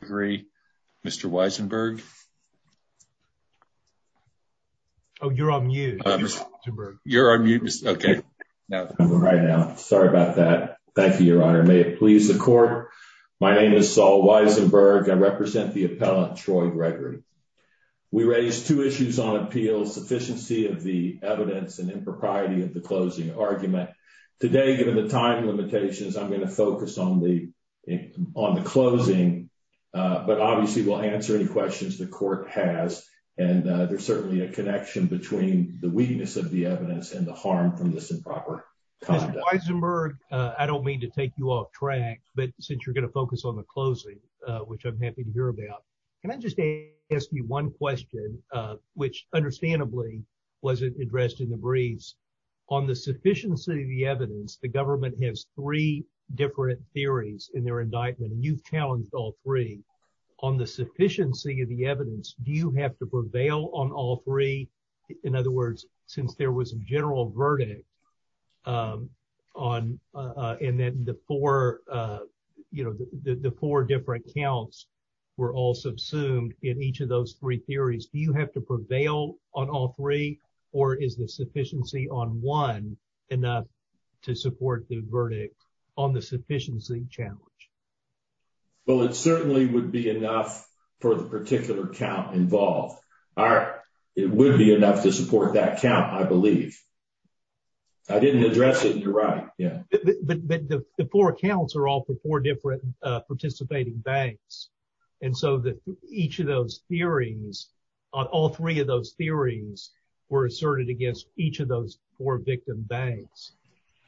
Gregory. Mr Weisenberg. Oh, you're on mute. You're on mute. Okay, right now. Sorry about that. Thank you, Your Honor. May it please the court. My name is Saul Weisenberg. I represent the appellant Troy Gregory. We raised two issues on appeals, sufficiency of the evidence and impropriety of the closing argument. Today, given the time limitations, I'm going to focus on the on the closing, but obviously will answer any questions the court has. And there's certainly a connection between the weakness of the evidence and the harm from this improper conduct. I don't mean to take you off track, but since you're going to focus on the closing, which I'm happy to hear about, can I just ask you one question, which understandably wasn't addressed in the breeze on the sufficiency of the government has three different theories in their indictment. You've challenged all three on the sufficiency of the evidence. Do you have to prevail on all three? In other words, since there was a general verdict, um, on uh, and then the four, uh, you know, the four different counts were all subsumed in each of those three theories. Do you have to prevail on all three? Or is the sufficiency on one enough to support the verdict on the sufficiency challenge? Well, it certainly would be enough for the particular count involved are it would be enough to support that count. I believe I didn't address it. You're right. But the four accounts are all for four different participating banks. And so that each of those hearings on all three of those theories were asserted against each of those four victim banks.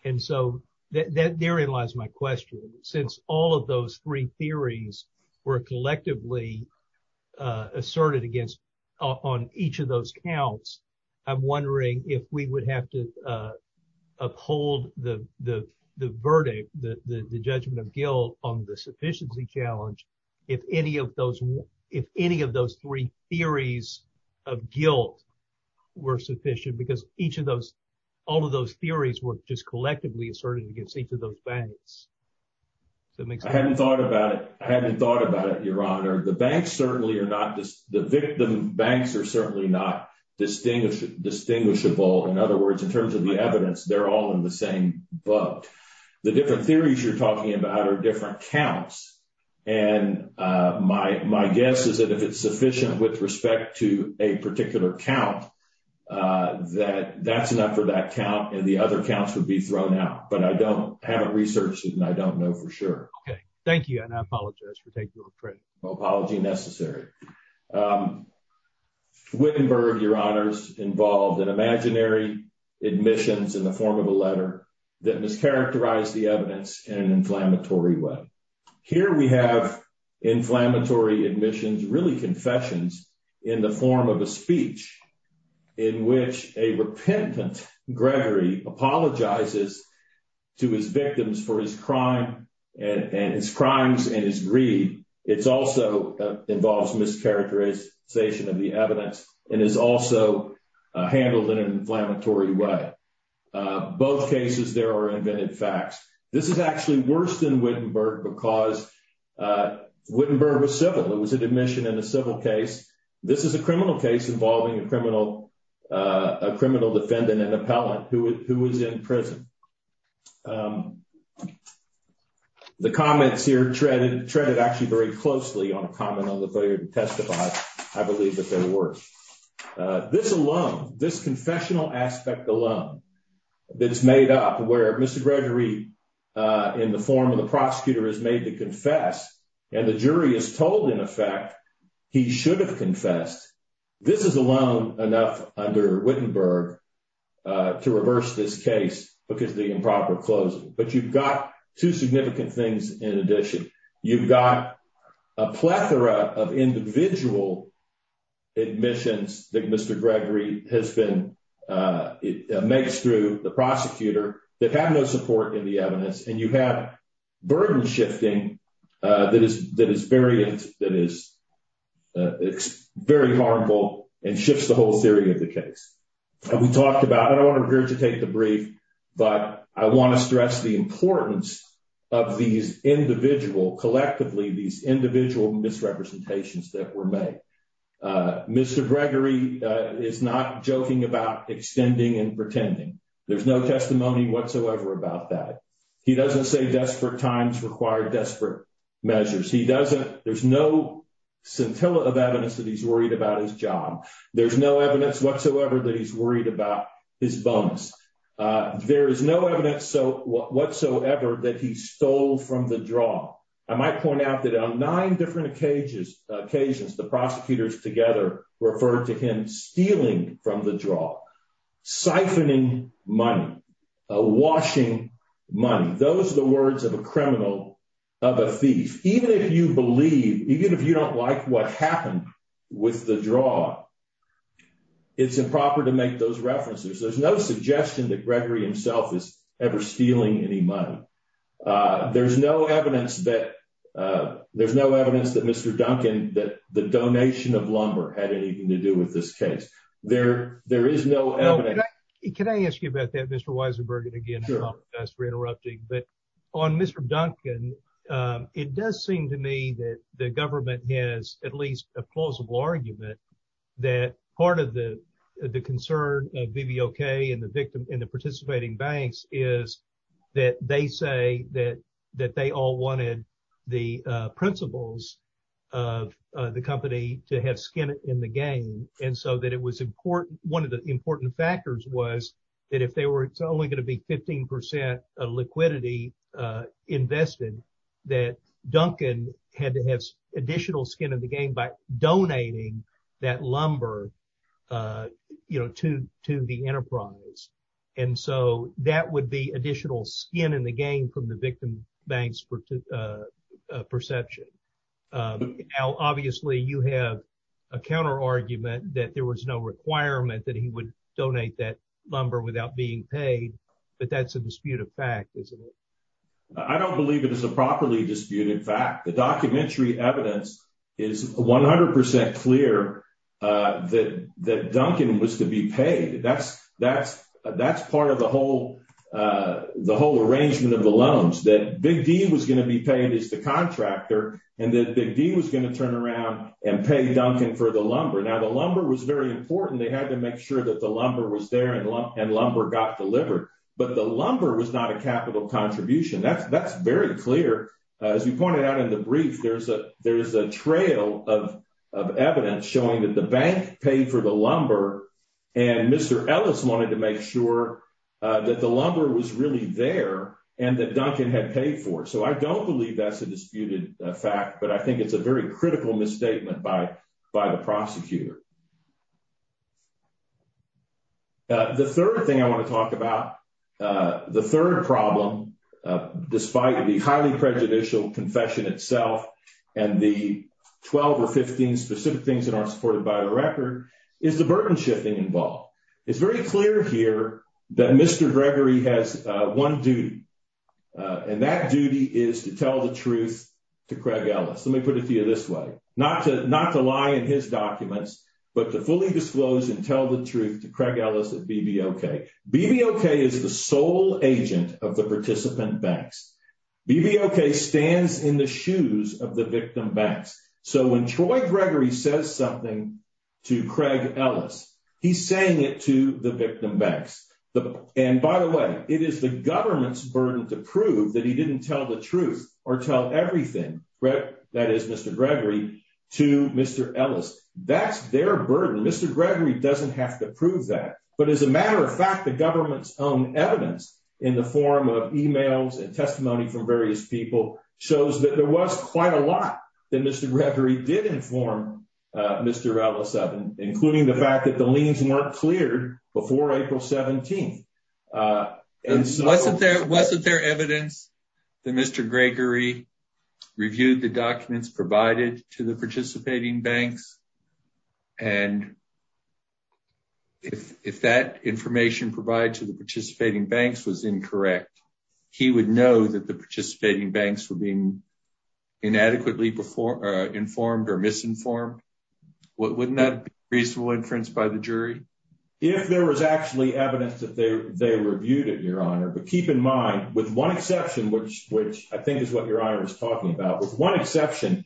And so that therein lies my question. Since all of those three theories were collectively, uh, asserted against on each of those counts, I'm wondering if we would have to, uh, uphold the verdict, the judgment of guilt on the sufficiency challenge. If any of those if any of those three theories of guilt were sufficient because each of those all of those theories were just collectively asserted against each of those banks. That makes I hadn't thought about it. I hadn't thought about it, Your Honor. The banks certainly are not just the victim. Banks are certainly not distinguish distinguishable. In other words, in terms of the evidence, they're all in the same boat. The different theories you're talking about are different counts. And, uh, my my guess is that if it's sufficient with respect to a particular count, uh, that that's enough for that count, and the other counts would be thrown out. But I don't have a research student. I don't know for sure. Okay, thank you. And I apologize for taking a credit apology necessary. Um, Wittenberg, Your Honor's involved in imaginary admissions in the form of a letter that mischaracterized the evidence in an inflammatory way. Here we have inflammatory admissions, really confessions in the form of a speech in which a repentant Gregory apologizes to his victims for his crime and his crimes and his greed. It's also involves mischaracterization of the evidence and is also handled in an inflammatory way. Both cases, there are invented facts. This is actually worse than Wittenberg because, uh, Wittenberg was civil. It was an admission in a civil case. This is a criminal case involving a criminal, uh, criminal defendant and appellant who was in prison. Um, the comments here treaded, treaded actually very closely on a comment on the failure to testify. I believe that there were, uh, this alone, this that's made up where Mr Gregory, uh, in the form of the prosecutor is made to confess, and the jury is told. In effect, he should have confessed. This is alone enough under Wittenberg, uh, to reverse this case because the improper closing. But you've got two significant things. In addition, you've got a plethora of individual admissions that Mr Gregory has been, uh, makes through the prosecutor that have no support in the evidence. And you have burden shifting that is that is very, that is, uh, very harmful and shifts the whole theory of the case. We talked about it. I want to regurgitate the brief, but I want to stress the importance of these individual collectively, these individual misrepresentations that were made. Uh, there's no testimony whatsoever about that. He doesn't say desperate times required desperate measures. He doesn't. There's no scintilla of evidence that he's worried about his job. There's no evidence whatsoever that he's worried about his bones. Uh, there is no evidence whatsoever that he stole from the draw. I might point out that on nine different cages, occasions, the money washing money. Those are the words of a criminal of a thief. Even if you believe, even if you don't like what happened with the draw, it's improper to make those references. There's no suggestion that Gregory himself is ever stealing any money. Uh, there's no evidence that, uh, there's no evidence that Mr Duncan that the donation of lumber had anything to do with this case. There there is no. Can I ask you about that, Mr Weisenberg? And again, we're interrupting. But on Mr Duncan, it does seem to me that the government has at least a plausible argument that part of the concern of B. B. O. K. And the victim in the participating banks is that they say that that they all wanted the principles of the company to have skin in the game. And so that it was important. One of the important factors was that if they were only going to be 15% liquidity invested that Duncan had to have additional skin in the game by donating that lumber, uh, you know, to to the enterprise. And so that would be additional skin in the game from the counter argument that there was no requirement that he would donate that lumber without being paid. But that's a disputed fact, isn't it? I don't believe it is a properly disputed fact. The documentary evidence is 100% clear that that Duncan was to be paid. That's that's that's part of the whole, uh, the whole arrangement of the loans that big deal was going to be paid is the and that big deal was going to turn around and pay Duncan for the lumber. Now, the lumber was very important. They had to make sure that the lumber was there and and lumber got delivered. But the lumber was not a capital contribution. That's that's very clear. As you pointed out in the brief, there's a there's a trail of evidence showing that the bank paid for the lumber and Mr Ellis wanted to make sure that the lumber was really there and that Duncan had paid for. So I don't believe that's a disputed fact, but I think it's a very critical misstatement by by the prosecutor. The third thing I want to talk about, uh, the third problem, despite the highly prejudicial confession itself and the 12 or 15 specific things that aren't supported by the record is the burden shifting involved. It's very clear here that Mr Gregory has one duty, uh, and that duty is to tell the truth to Craig Ellis. Let me put it to you this way, not to not to lie in his documents, but to fully disclose and tell the truth to Craig Ellis that B. B. O. K. B. B. O. K. Is the sole agent of the participant banks. B. B. O. K. stands in the shoes of the victim banks. So when Troy Gregory says something to victim banks, and by the way, it is the government's burden to prove that he didn't tell the truth or tell everything that is Mr Gregory to Mr Ellis. That's their burden. Mr Gregory doesn't have to prove that. But as a matter of fact, the government's own evidence in the form of emails and testimony from various people shows that there was quite a lot that Mr Gregory did inform Mr Ellis of, including the fact that the liens weren't cleared before April 17th. Uh, wasn't there? Wasn't there evidence that Mr Gregory reviewed the documents provided to the participating banks? And if if that information provide to the participating banks was incorrect, he would know that the participating banks were being inadequately before informed or misinformed. Wouldn't that be reasonable inference by the jury? If there was actually evidence that they reviewed it, your honor, but keep in mind, with one exception, which which I think is what your honor is talking about. With one exception,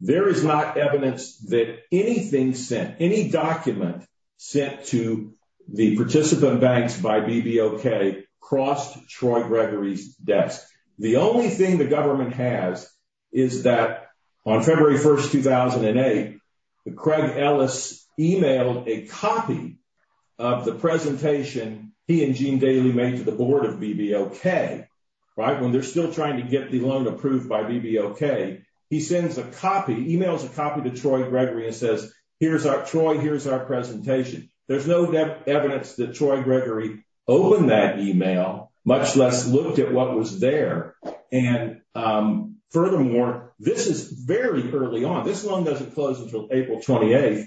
there is not evidence that anything sent any document sent to the participant banks by B. B. O. K. Crossed Troy Gregory's The only thing the government has is that on February 1st, 2008, Craig Ellis emailed a copy of the presentation he and Jean Daly made to the board of B. B. O. K. Right when they're still trying to get the loan approved by B. B. O. K. He sends a copy emails a copy to Troy Gregory and says, Here's our Troy. Here's our presentation. There's no evidence that Troy Gregory open that email, much less looked at what was there. And, um, furthermore, this is very early on. This loan doesn't close until April 28th.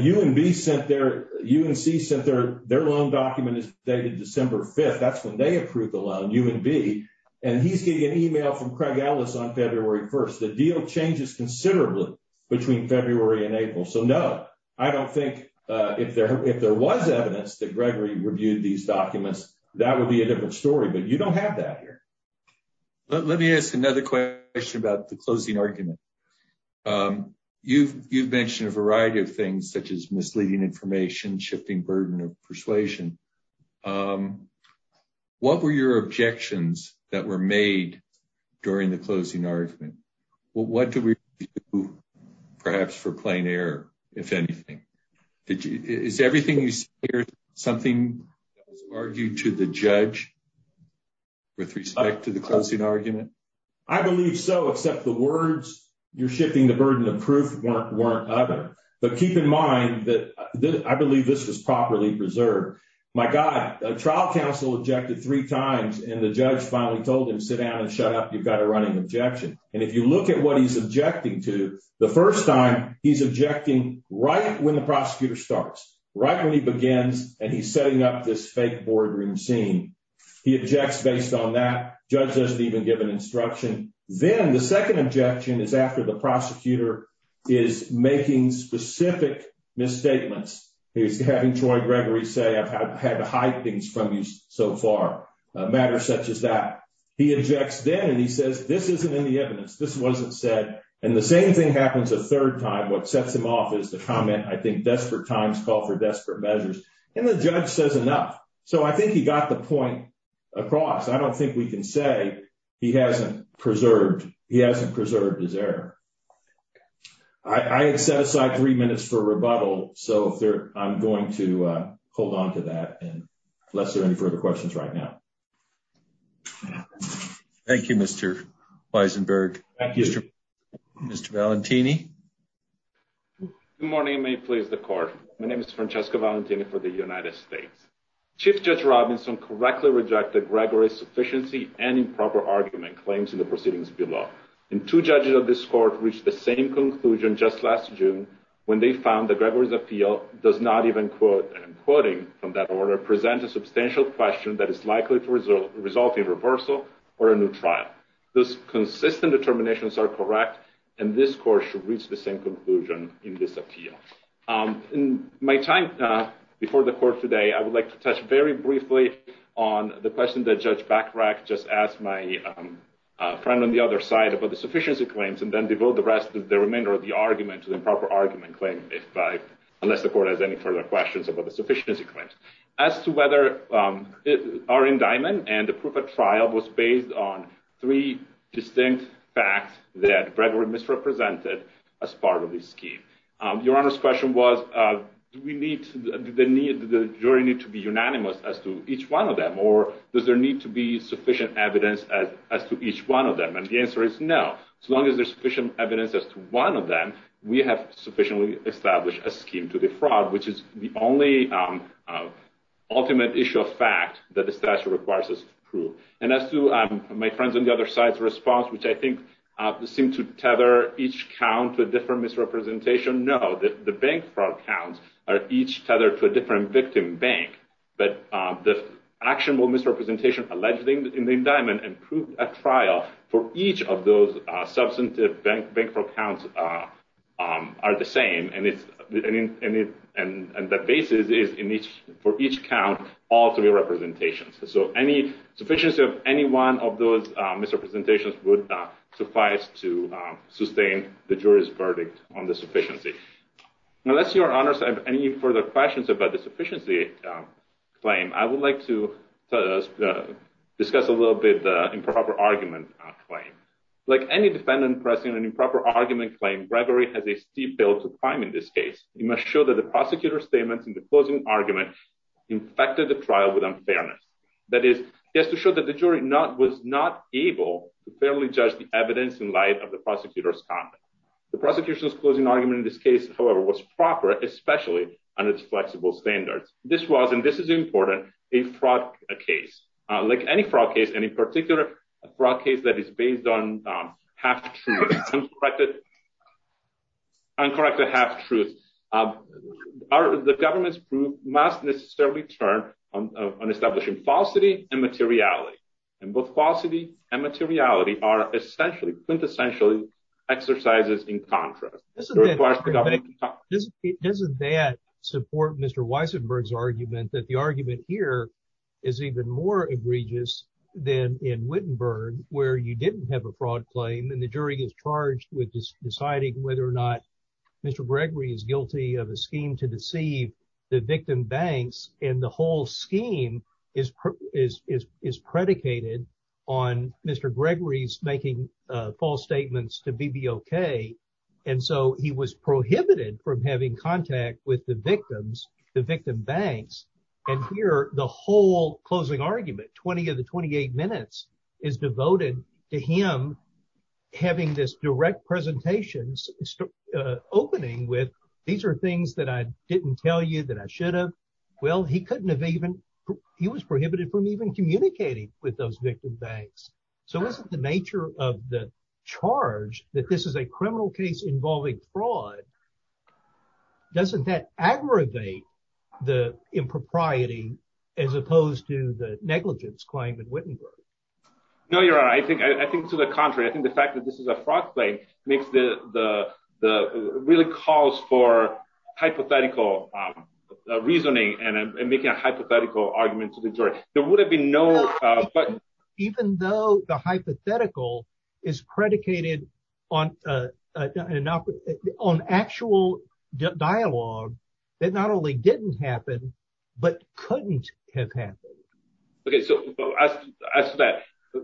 You and B sent their UNC Center. Their loan document is dated December 5th. That's when they approved the loan. You would be and he's getting an email from Craig Ellis on February 1st. The deal changes considerably between February and April. So no, I don't think if there if there was evidence that Gregory reviewed these documents, that would be a different story. But you don't have that here. Let me ask another question about the closing argument. Um, you've you've mentioned a variety of things such as misleading information, shifting burden of persuasion. Um, what were your objections that were made during the closing argument? Well, what do we perhaps for plain air, if anything, is everything you hear something argued to the judge with respect to the closing argument? I believe so. Except the words you're shifting the burden of proof weren't other. But keep in mind that I believe this was properly preserved. My God, trial counsel objected three times, and the judge finally told him, Sit down and shut up. You've got a running objection. And if you look at what he's objecting to the first time he's right when he begins, and he's setting up this fake boardroom scene, he objects based on that judge doesn't even give an instruction. Then the second objection is after the prosecutor is making specific misstatements. He's having Troy Gregory say I've had to hide things from you so far matters such as that he objects then, and he says this isn't in the evidence. This wasn't said. And the same thing happens a third time. What sets him off is the comment. I think desperate times call for desperate measures, and the judge says enough. So I think he got the point across. I don't think we can say he hasn't preserved. He hasn't preserved his error. I had set aside three minutes for rebuttal, so I'm going to hold on to that. And unless there any further questions right now. Thank you, Mr Weisenberg. Thank you, Mr Mr Valentini. Good morning. May it please the court. My name is Francesco Valentini for the United States. Chief Judge Robinson correctly rejected Gregory's sufficiency and improper argument claims in the proceedings below. And two judges of this court reached the same conclusion just last June when they found that Gregory's appeal does not even quote quoting from that order present a substantial question that is likely to result in reversal or a new trial. Those consistent determinations are correct, and this court should reach the same conclusion in this appeal. In my time before the court today, I would like to touch very briefly on the question that Judge Bachrach just asked my friend on the other side about the sufficiency claims and then devote the rest of the remainder of the argument to the improper argument claim, unless the court has any further questions about the sufficiency claims. As to whether our indictment and the proof of trial was based on three distinct facts that Gregory misrepresented as part of the scheme. Your Honor's question was, uh, we need the need. The jury need to be unanimous as to each one of them, or does there need to be sufficient evidence as to each one of them? And the answer is no. So long as there's sufficient evidence as to one of them, we have sufficiently established a scheme to the fraud, which is the only, um, ultimate issue of fact that the As to my friend's on the other side's response, which I think seemed to tether each count to a different misrepresentation. No, the bank fraud counts are each tethered to a different victim bank. But the actionable misrepresentation alleged in the indictment and proved at trial for each of those substantive bank fraud counts are the same. And the basis is for each count all three representations. So any sufficiency of any one of those misrepresentations would suffice to sustain the jury's verdict on the sufficiency. Unless your honors have any further questions about the sufficiency claim, I would like to discuss a little bit improper argument claim. Like any defendant pressing an improper argument claim, Gregory has a steep bill to climb. In this case, you must show that the infected the trial with unfairness. That is just to show that the jury not was not able to fairly judge the evidence in light of the prosecutor's conduct. The prosecution's closing argument in this case, however, was proper, especially on its flexible standards. This was and this is important. A fraud case like any fraud case, any particular fraud case that is based on half truth, uncorrected, uncorrected, half truth are the government's proof must necessarily turn on establishing falsity and materiality. And both falsity and materiality are essentially quintessentially exercises in contrast. Doesn't that support Mr Weissenberg's argument that the argument here is even more egregious than in Wittenberg, where you didn't have a fraud claim, and the jury is charged with deciding whether or not Mr Gregory is guilty of a scheme to deceive the victim banks. And the whole scheme is is is predicated on Mr Gregory's making false statements to be be okay. And so he was prohibited from having contact with the victims, the victim banks. And here the whole closing argument 20 of the 28 minutes is devoted to him having this direct presentations opening with. These are things that I didn't tell you that I should have. Well, he couldn't have even he was prohibited from even communicating with those victim banks. So what's the nature of the charge that this is a criminal case involving fraud? Doesn't that aggravate the impropriety as opposed to the No, you're right. I think I think to the contrary. I think the fact that this is a fraud claim makes the really calls for hypothetical reasoning and making a hypothetical argument to the jury. There would have been no. But even though the hypothetical is predicated on on actual dialogue that not only didn't happen, but couldn't have happened. Okay, so as as that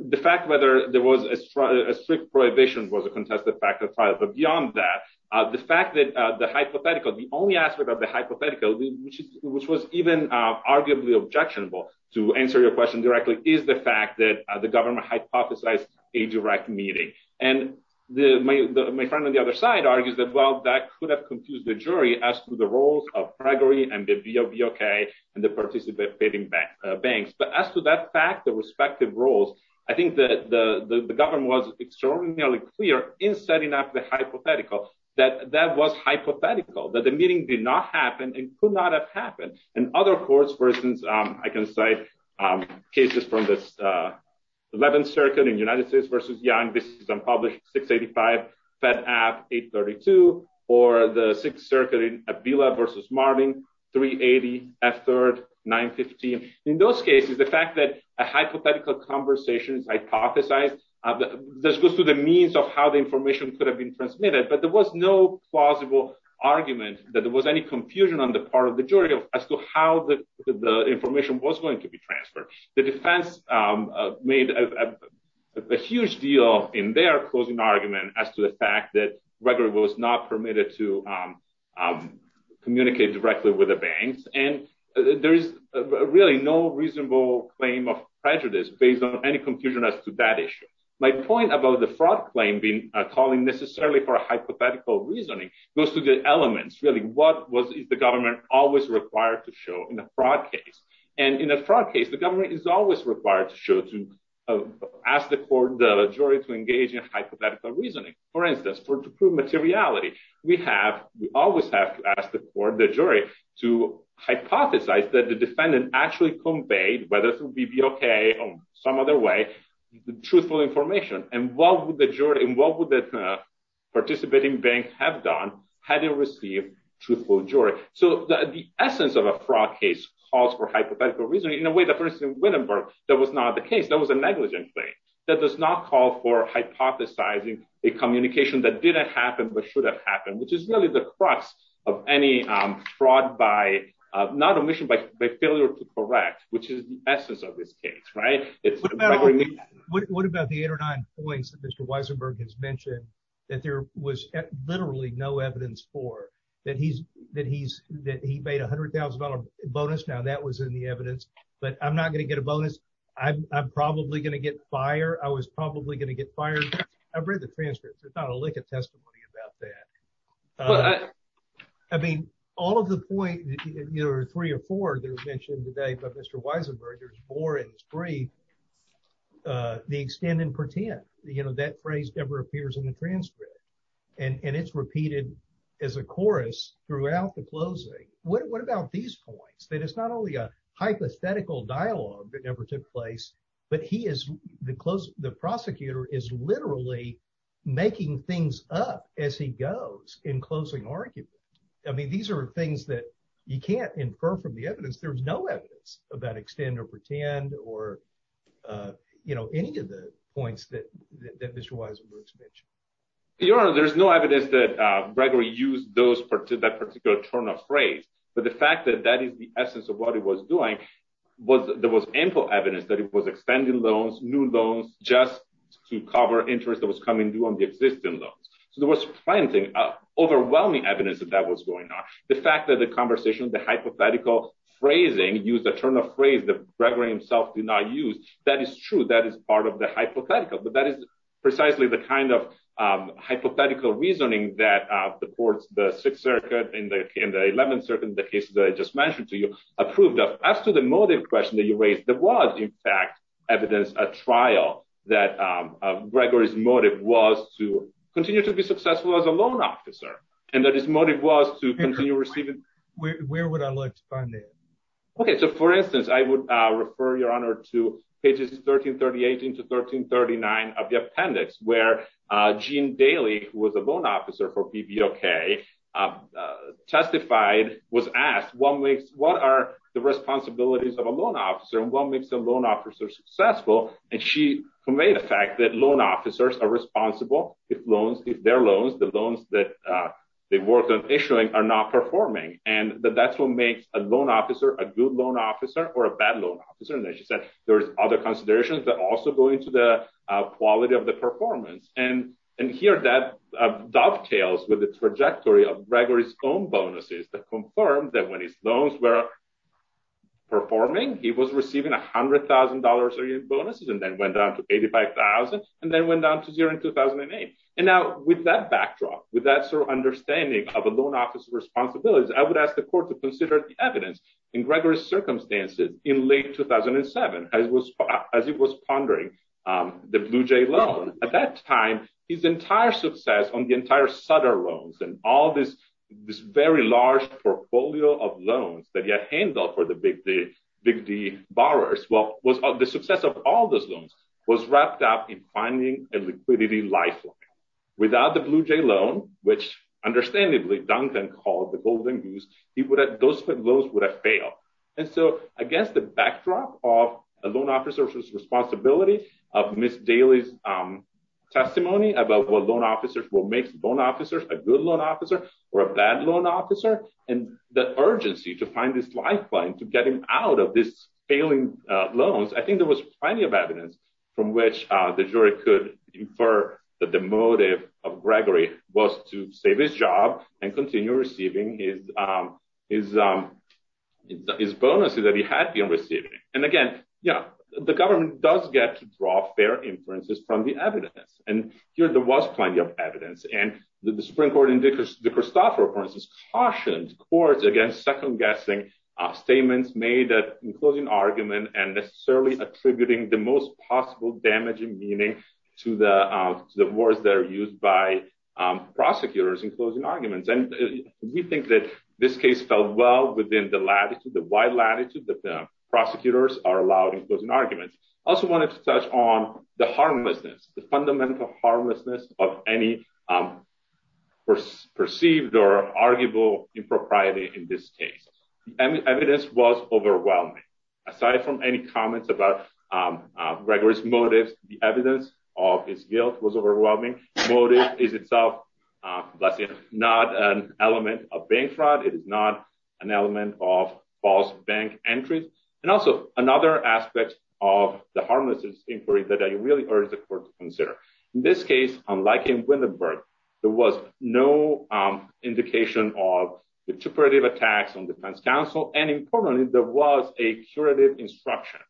the fact whether there was a strict prohibition was a contested fact of trial. But beyond that, the fact that the hypothetical, the only aspect of the hypothetical, which is which was even arguably objectionable to answer your question directly is the fact that the government hypothesized a direct meeting. And the my friend on the other side argues that well, that could have the jury as to the roles of Gregory and the VOV. Okay, and the participant bidding back banks. But as to that fact, the respective roles, I think that the government was extraordinarily clear in setting up the hypothetical, that that was hypothetical, that the meeting did not happen and could not have happened. And other courts, for instance, I can cite cases from this 11th Circuit in Sixth Circuit in Abila versus Martin, 380, F3rd, 915. In those cases, the fact that a hypothetical conversation is hypothesized, this goes to the means of how the information could have been transmitted. But there was no plausible argument that there was any confusion on the part of the jury as to how the information was going to be transferred. The defense made a huge deal in their closing argument as to the fact that Gregory was not permitted to communicate directly with the banks. And there is really no reasonable claim of prejudice based on any confusion as to that issue. My point about the fraud claim being calling necessarily for a hypothetical reasoning goes to the elements really what was the government always required to show in a fraud case. And in a fraud case, the government is always required to show to ask the court the jury to hypothetical reasoning, for instance, for to prove materiality. We have we always have to ask the court the jury to hypothesize that the defendant actually conveyed whether it would be okay or some other way, the truthful information and what would the jury and what would the participating bank have done had they received truthful jury. So the essence of a fraud case calls for hypothetical reasoning in a way that first in Wittenberg, that was not the case. That was a negligent thing that does not call for hypothesizing a communication that didn't happen but should have happened, which is really the crux of any fraud by not a mission by failure to correct, which is the essence of this case, right? What about the eight or nine points that Mr Weisenberg has mentioned that there was literally no evidence for that? He's that he's that he made $100,000 bonus. Now that was in the evidence, but I'm probably gonna get fire. I was probably gonna get fired. I've read the transcripts. It's not a lick of testimony about that. Uh, I mean, all of the point, you know, three or four that was mentioned today, but Mr Weisenberg, there's more in his brief. Uh, the extend and pretend, you know, that phrase never appears in the transcript, and it's repeated as a chorus throughout the closing. What about these points that it's not only hypothetical dialogue that never took place, but he is the close. The prosecutor is literally making things up as he goes in closing argument. I mean, these are things that you can't infer from the evidence. There's no evidence about extend or pretend or, uh, you know, any of the points that that Mr Weisenberg's mentioned. You know, there's no evidence that Gregory used those part of that particular turn of phrase. But the fact that that is the essence of what it was doing was there was ample evidence that it was extending loans, new loans just to cover interest that was coming due on the existing loans. So there was plenty of overwhelming evidence that that was going on. The fact that the conversation, the hypothetical phrasing used a turn of phrase that Gregory himself did not use. That is true. That is part of the hypothetical. But that is precisely the kind of, um, hypothetical reasoning that supports the Sixth Circuit in the in the 11th in the case that I just mentioned to you approved of us to the motive question that you raised. There was, in fact, evidence a trial that Gregory's motive was to continue to be successful as a loan officer and that his motive was to continue receiving. Where would I like to find it? Okay, so, for instance, I would refer your honor to pages 13 38 into 13 39 of the appendix where Jean Daly, who was a loan officer for PBOK, uh, testified was asked what makes what are the responsibilities of a loan officer and what makes a loan officer successful? And she conveyed the fact that loan officers are responsible if loans if their loans, the loans that they work on issuing are not performing and that that's what makes a loan officer a good loan officer or a bad loan officer. And as you said, there's other performance and and here that dovetails with the trajectory of Gregory's own bonuses that confirmed that when his loans were performing, he was receiving $100,000 bonuses and then went down to 85,000 and then went down to zero in 2008. And now, with that backdrop, with that sort of understanding of a loan officer responsibilities, I would ask the court to consider the evidence in Gregory's circumstances in late 2007 as it was pondering the Blue Jay loan. At that time, his entire success on the entire Sutter loans and all this this very large portfolio of loans that he had handled for the Big D borrowers, well, the success of all those loans was wrapped up in finding a liquidity lifeline. Without the Blue Jay loan, which understandably Duncan called the golden goose, those loans would have failed. And so, against the backdrop of a loan officer's responsibility of Ms. Daly's testimony about what loan officers will make loan officers a good loan officer or a bad loan officer and the urgency to find this lifeline to get him out of this failing loans, I think there was plenty of evidence from which the jury could infer that the motive of Gregory was to save his job and continue receiving his bonuses that he had been receiving. And again, you know, the government does get to draw fair inferences from the evidence. And here there was plenty of evidence. And the Supreme Court in the Christopher Appearance cautioned courts against second-guessing statements made that enclosing argument and necessarily attributing the most possible damaging meaning to the words that are used by prosecutors in closing arguments. And we think that this case fell well within the latitude, the wide latitude that the prosecutors are allowed in closing arguments. I also wanted to touch on the harmlessness, the fundamental harmlessness of any perceived or arguable impropriety in this case. The evidence was overwhelming. Aside from any motives, the evidence of his guilt was overwhelming. Motive is itself, bless him, not an element of bank fraud. It is not an element of false bank entries. And also another aspect of the harmlessness inquiry that I really urge the court to consider. In this case, unlike in Winterberg, there was no indication of intuperative attacks on defense counsel. And importantly, there was a curative instruction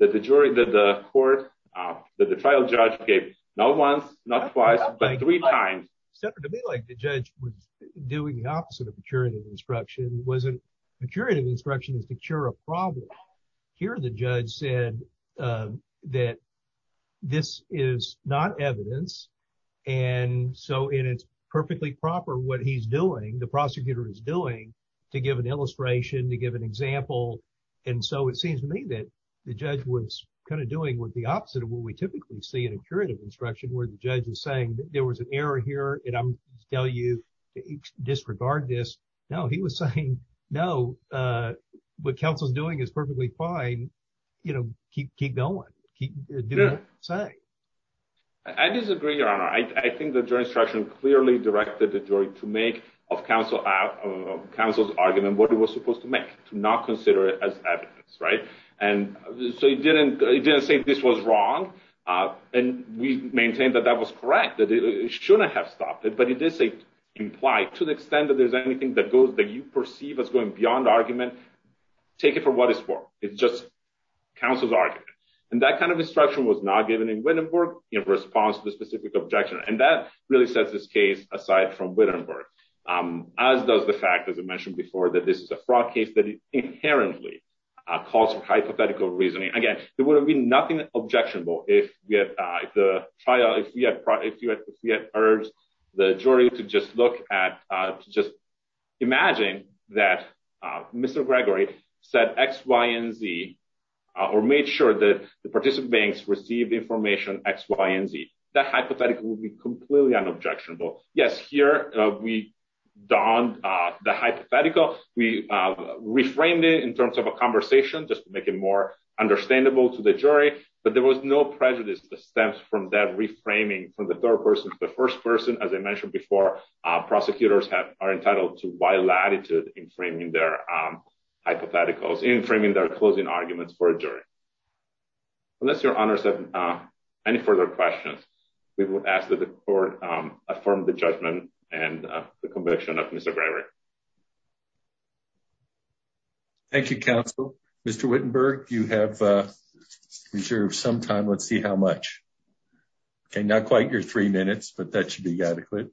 that the jury, that the court, that the trial judge gave not once, not twice, but three times. Senator, to me like the judge was doing the opposite of curative instruction, wasn't, curative instruction is to cure a problem. Here the judge said that this is not evidence, and so it's perfectly proper what he's doing, the prosecutor is doing, to give an illustration, to give an example. And so it seems to me that the judge was kind of doing with the opposite of what we typically see in a curative instruction, where the judge is saying that there was an error here, and I'm telling you, disregard this. No, he was saying, no, what counsel's doing is perfectly fine, you know, keep going, keep doing what you're saying. I disagree, Your Honor. I think the jury instruction clearly directed the jury to make of counsel's argument what it was supposed to make, to not consider it as evidence, right? And so he didn't say this was wrong, and we maintained that that was correct, that it shouldn't have stopped it, but he did say implied, to the extent that there's anything that goes, that you perceive as going beyond argument, take it for what it's for. It's just counsel's argument. And that kind of instruction was not given in Wittenberg in response to the specific objection, and that really sets this case aside from Wittenberg, as does the fact, as I mentioned before, that this is a fraud case that inherently calls for hypothetical reasoning. Again, there would have been nothing objectionable if we had urged the jury to just look at, just imagine that Mr. Gregory said X, Y, and Z, or made sure that the participants received information X, Y, and Z. That hypothetical would be the hypothetical. We reframed it in terms of a conversation, just to make it more understandable to the jury, but there was no prejudice that stems from that reframing from the third person to the first person. As I mentioned before, prosecutors are entitled to wide latitude in framing their hypotheticals, in framing their closing arguments for a jury. Unless your honors have any further questions, we would ask that the court affirm the judgment and the conviction of Mr. Gregory. Thank you, counsel. Mr. Wittenberg, you have reserved some time. Let's see how much. Okay, not quite your three minutes, but that should be adequate.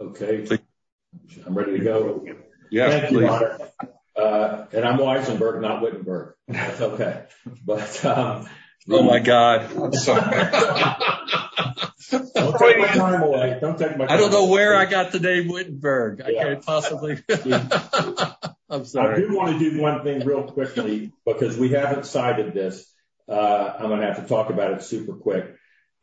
Okay. I'm ready to go. And I'm Weisenberg, not Wittenberg. That's okay. But... Oh, my God. I'm sorry. Don't take my time away. Don't take my time away. I don't know where I got the name Wittenberg. I can't possibly... I'm sorry. I do want to do one thing real quickly, because we haven't cited this. I'm going to have to talk about it super quick.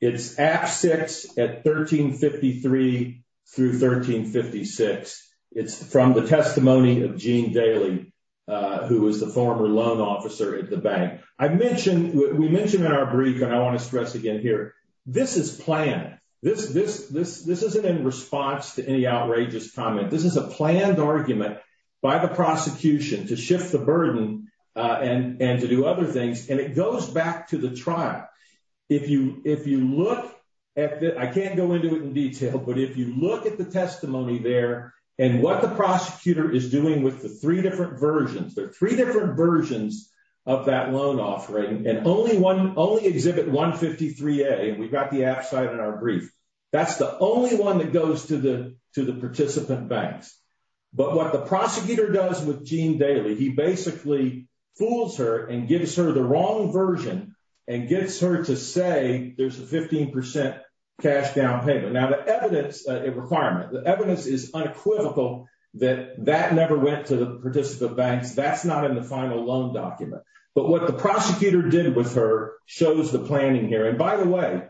It's Act 6 at 1353 through 1356. It's from the testimony of Gene Daley, who was the former loan officer at the bank. We mentioned in our brief, and I want to stress again here, this is planned. This isn't in response to any outrageous comment. This is a planned argument by the prosecution to shift the burden and to do other things, and it goes back to the trial. If you look at the... I can't go into it in detail, but if you look at the testimony there and what the prosecutor is doing with the three different versions, there are three different versions of that loan offering, and only exhibit 153A. We've got the abside in our brief. That's the only one that goes to the participant banks. But what the prosecutor does with Gene Daley, he basically fools her and gives her the wrong version, and gets her to say there's a 15% cash down payment. Now, the evidence requirement, the evidence is unequivocal that that never went to the participant banks. That's not in the final loan document. But what the prosecutor did with her shows the planning here. And by the way,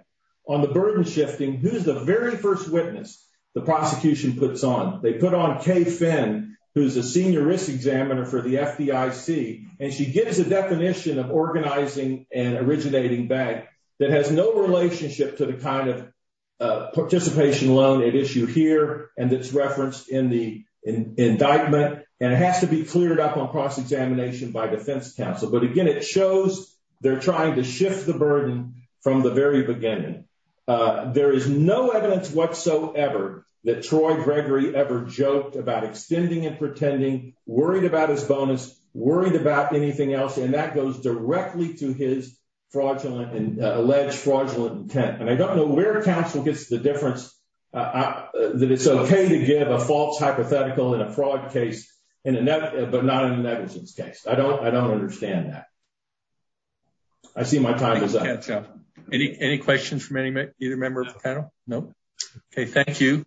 on the burden shifting, who's the very first witness the prosecution puts on? They put on Kay Finn, who's a senior risk examiner for the FDIC, and she gives a definition of organizing an originating bank that has no relationship to the kind of participation loan at issue here, and it's referenced in the indictment, and it has to be cleared up on cross-examination by defense counsel. But again, it shows they're trying to shift the burden from the very beginning. There is no evidence whatsoever that Troy Gregory ever joked about extending and pretending, worried about his bonus, worried about anything else, and that goes directly to his fraudulent and alleged fraudulent intent. And I don't know where counsel gets the difference that it's okay to give a false hypothetical in a fraud case, but not in a negligence case. I don't understand that. I see my time is up. Any questions from either member of the panel? No? Okay, thank you.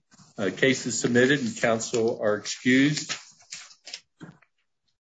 Case is submitted and counsel are excused.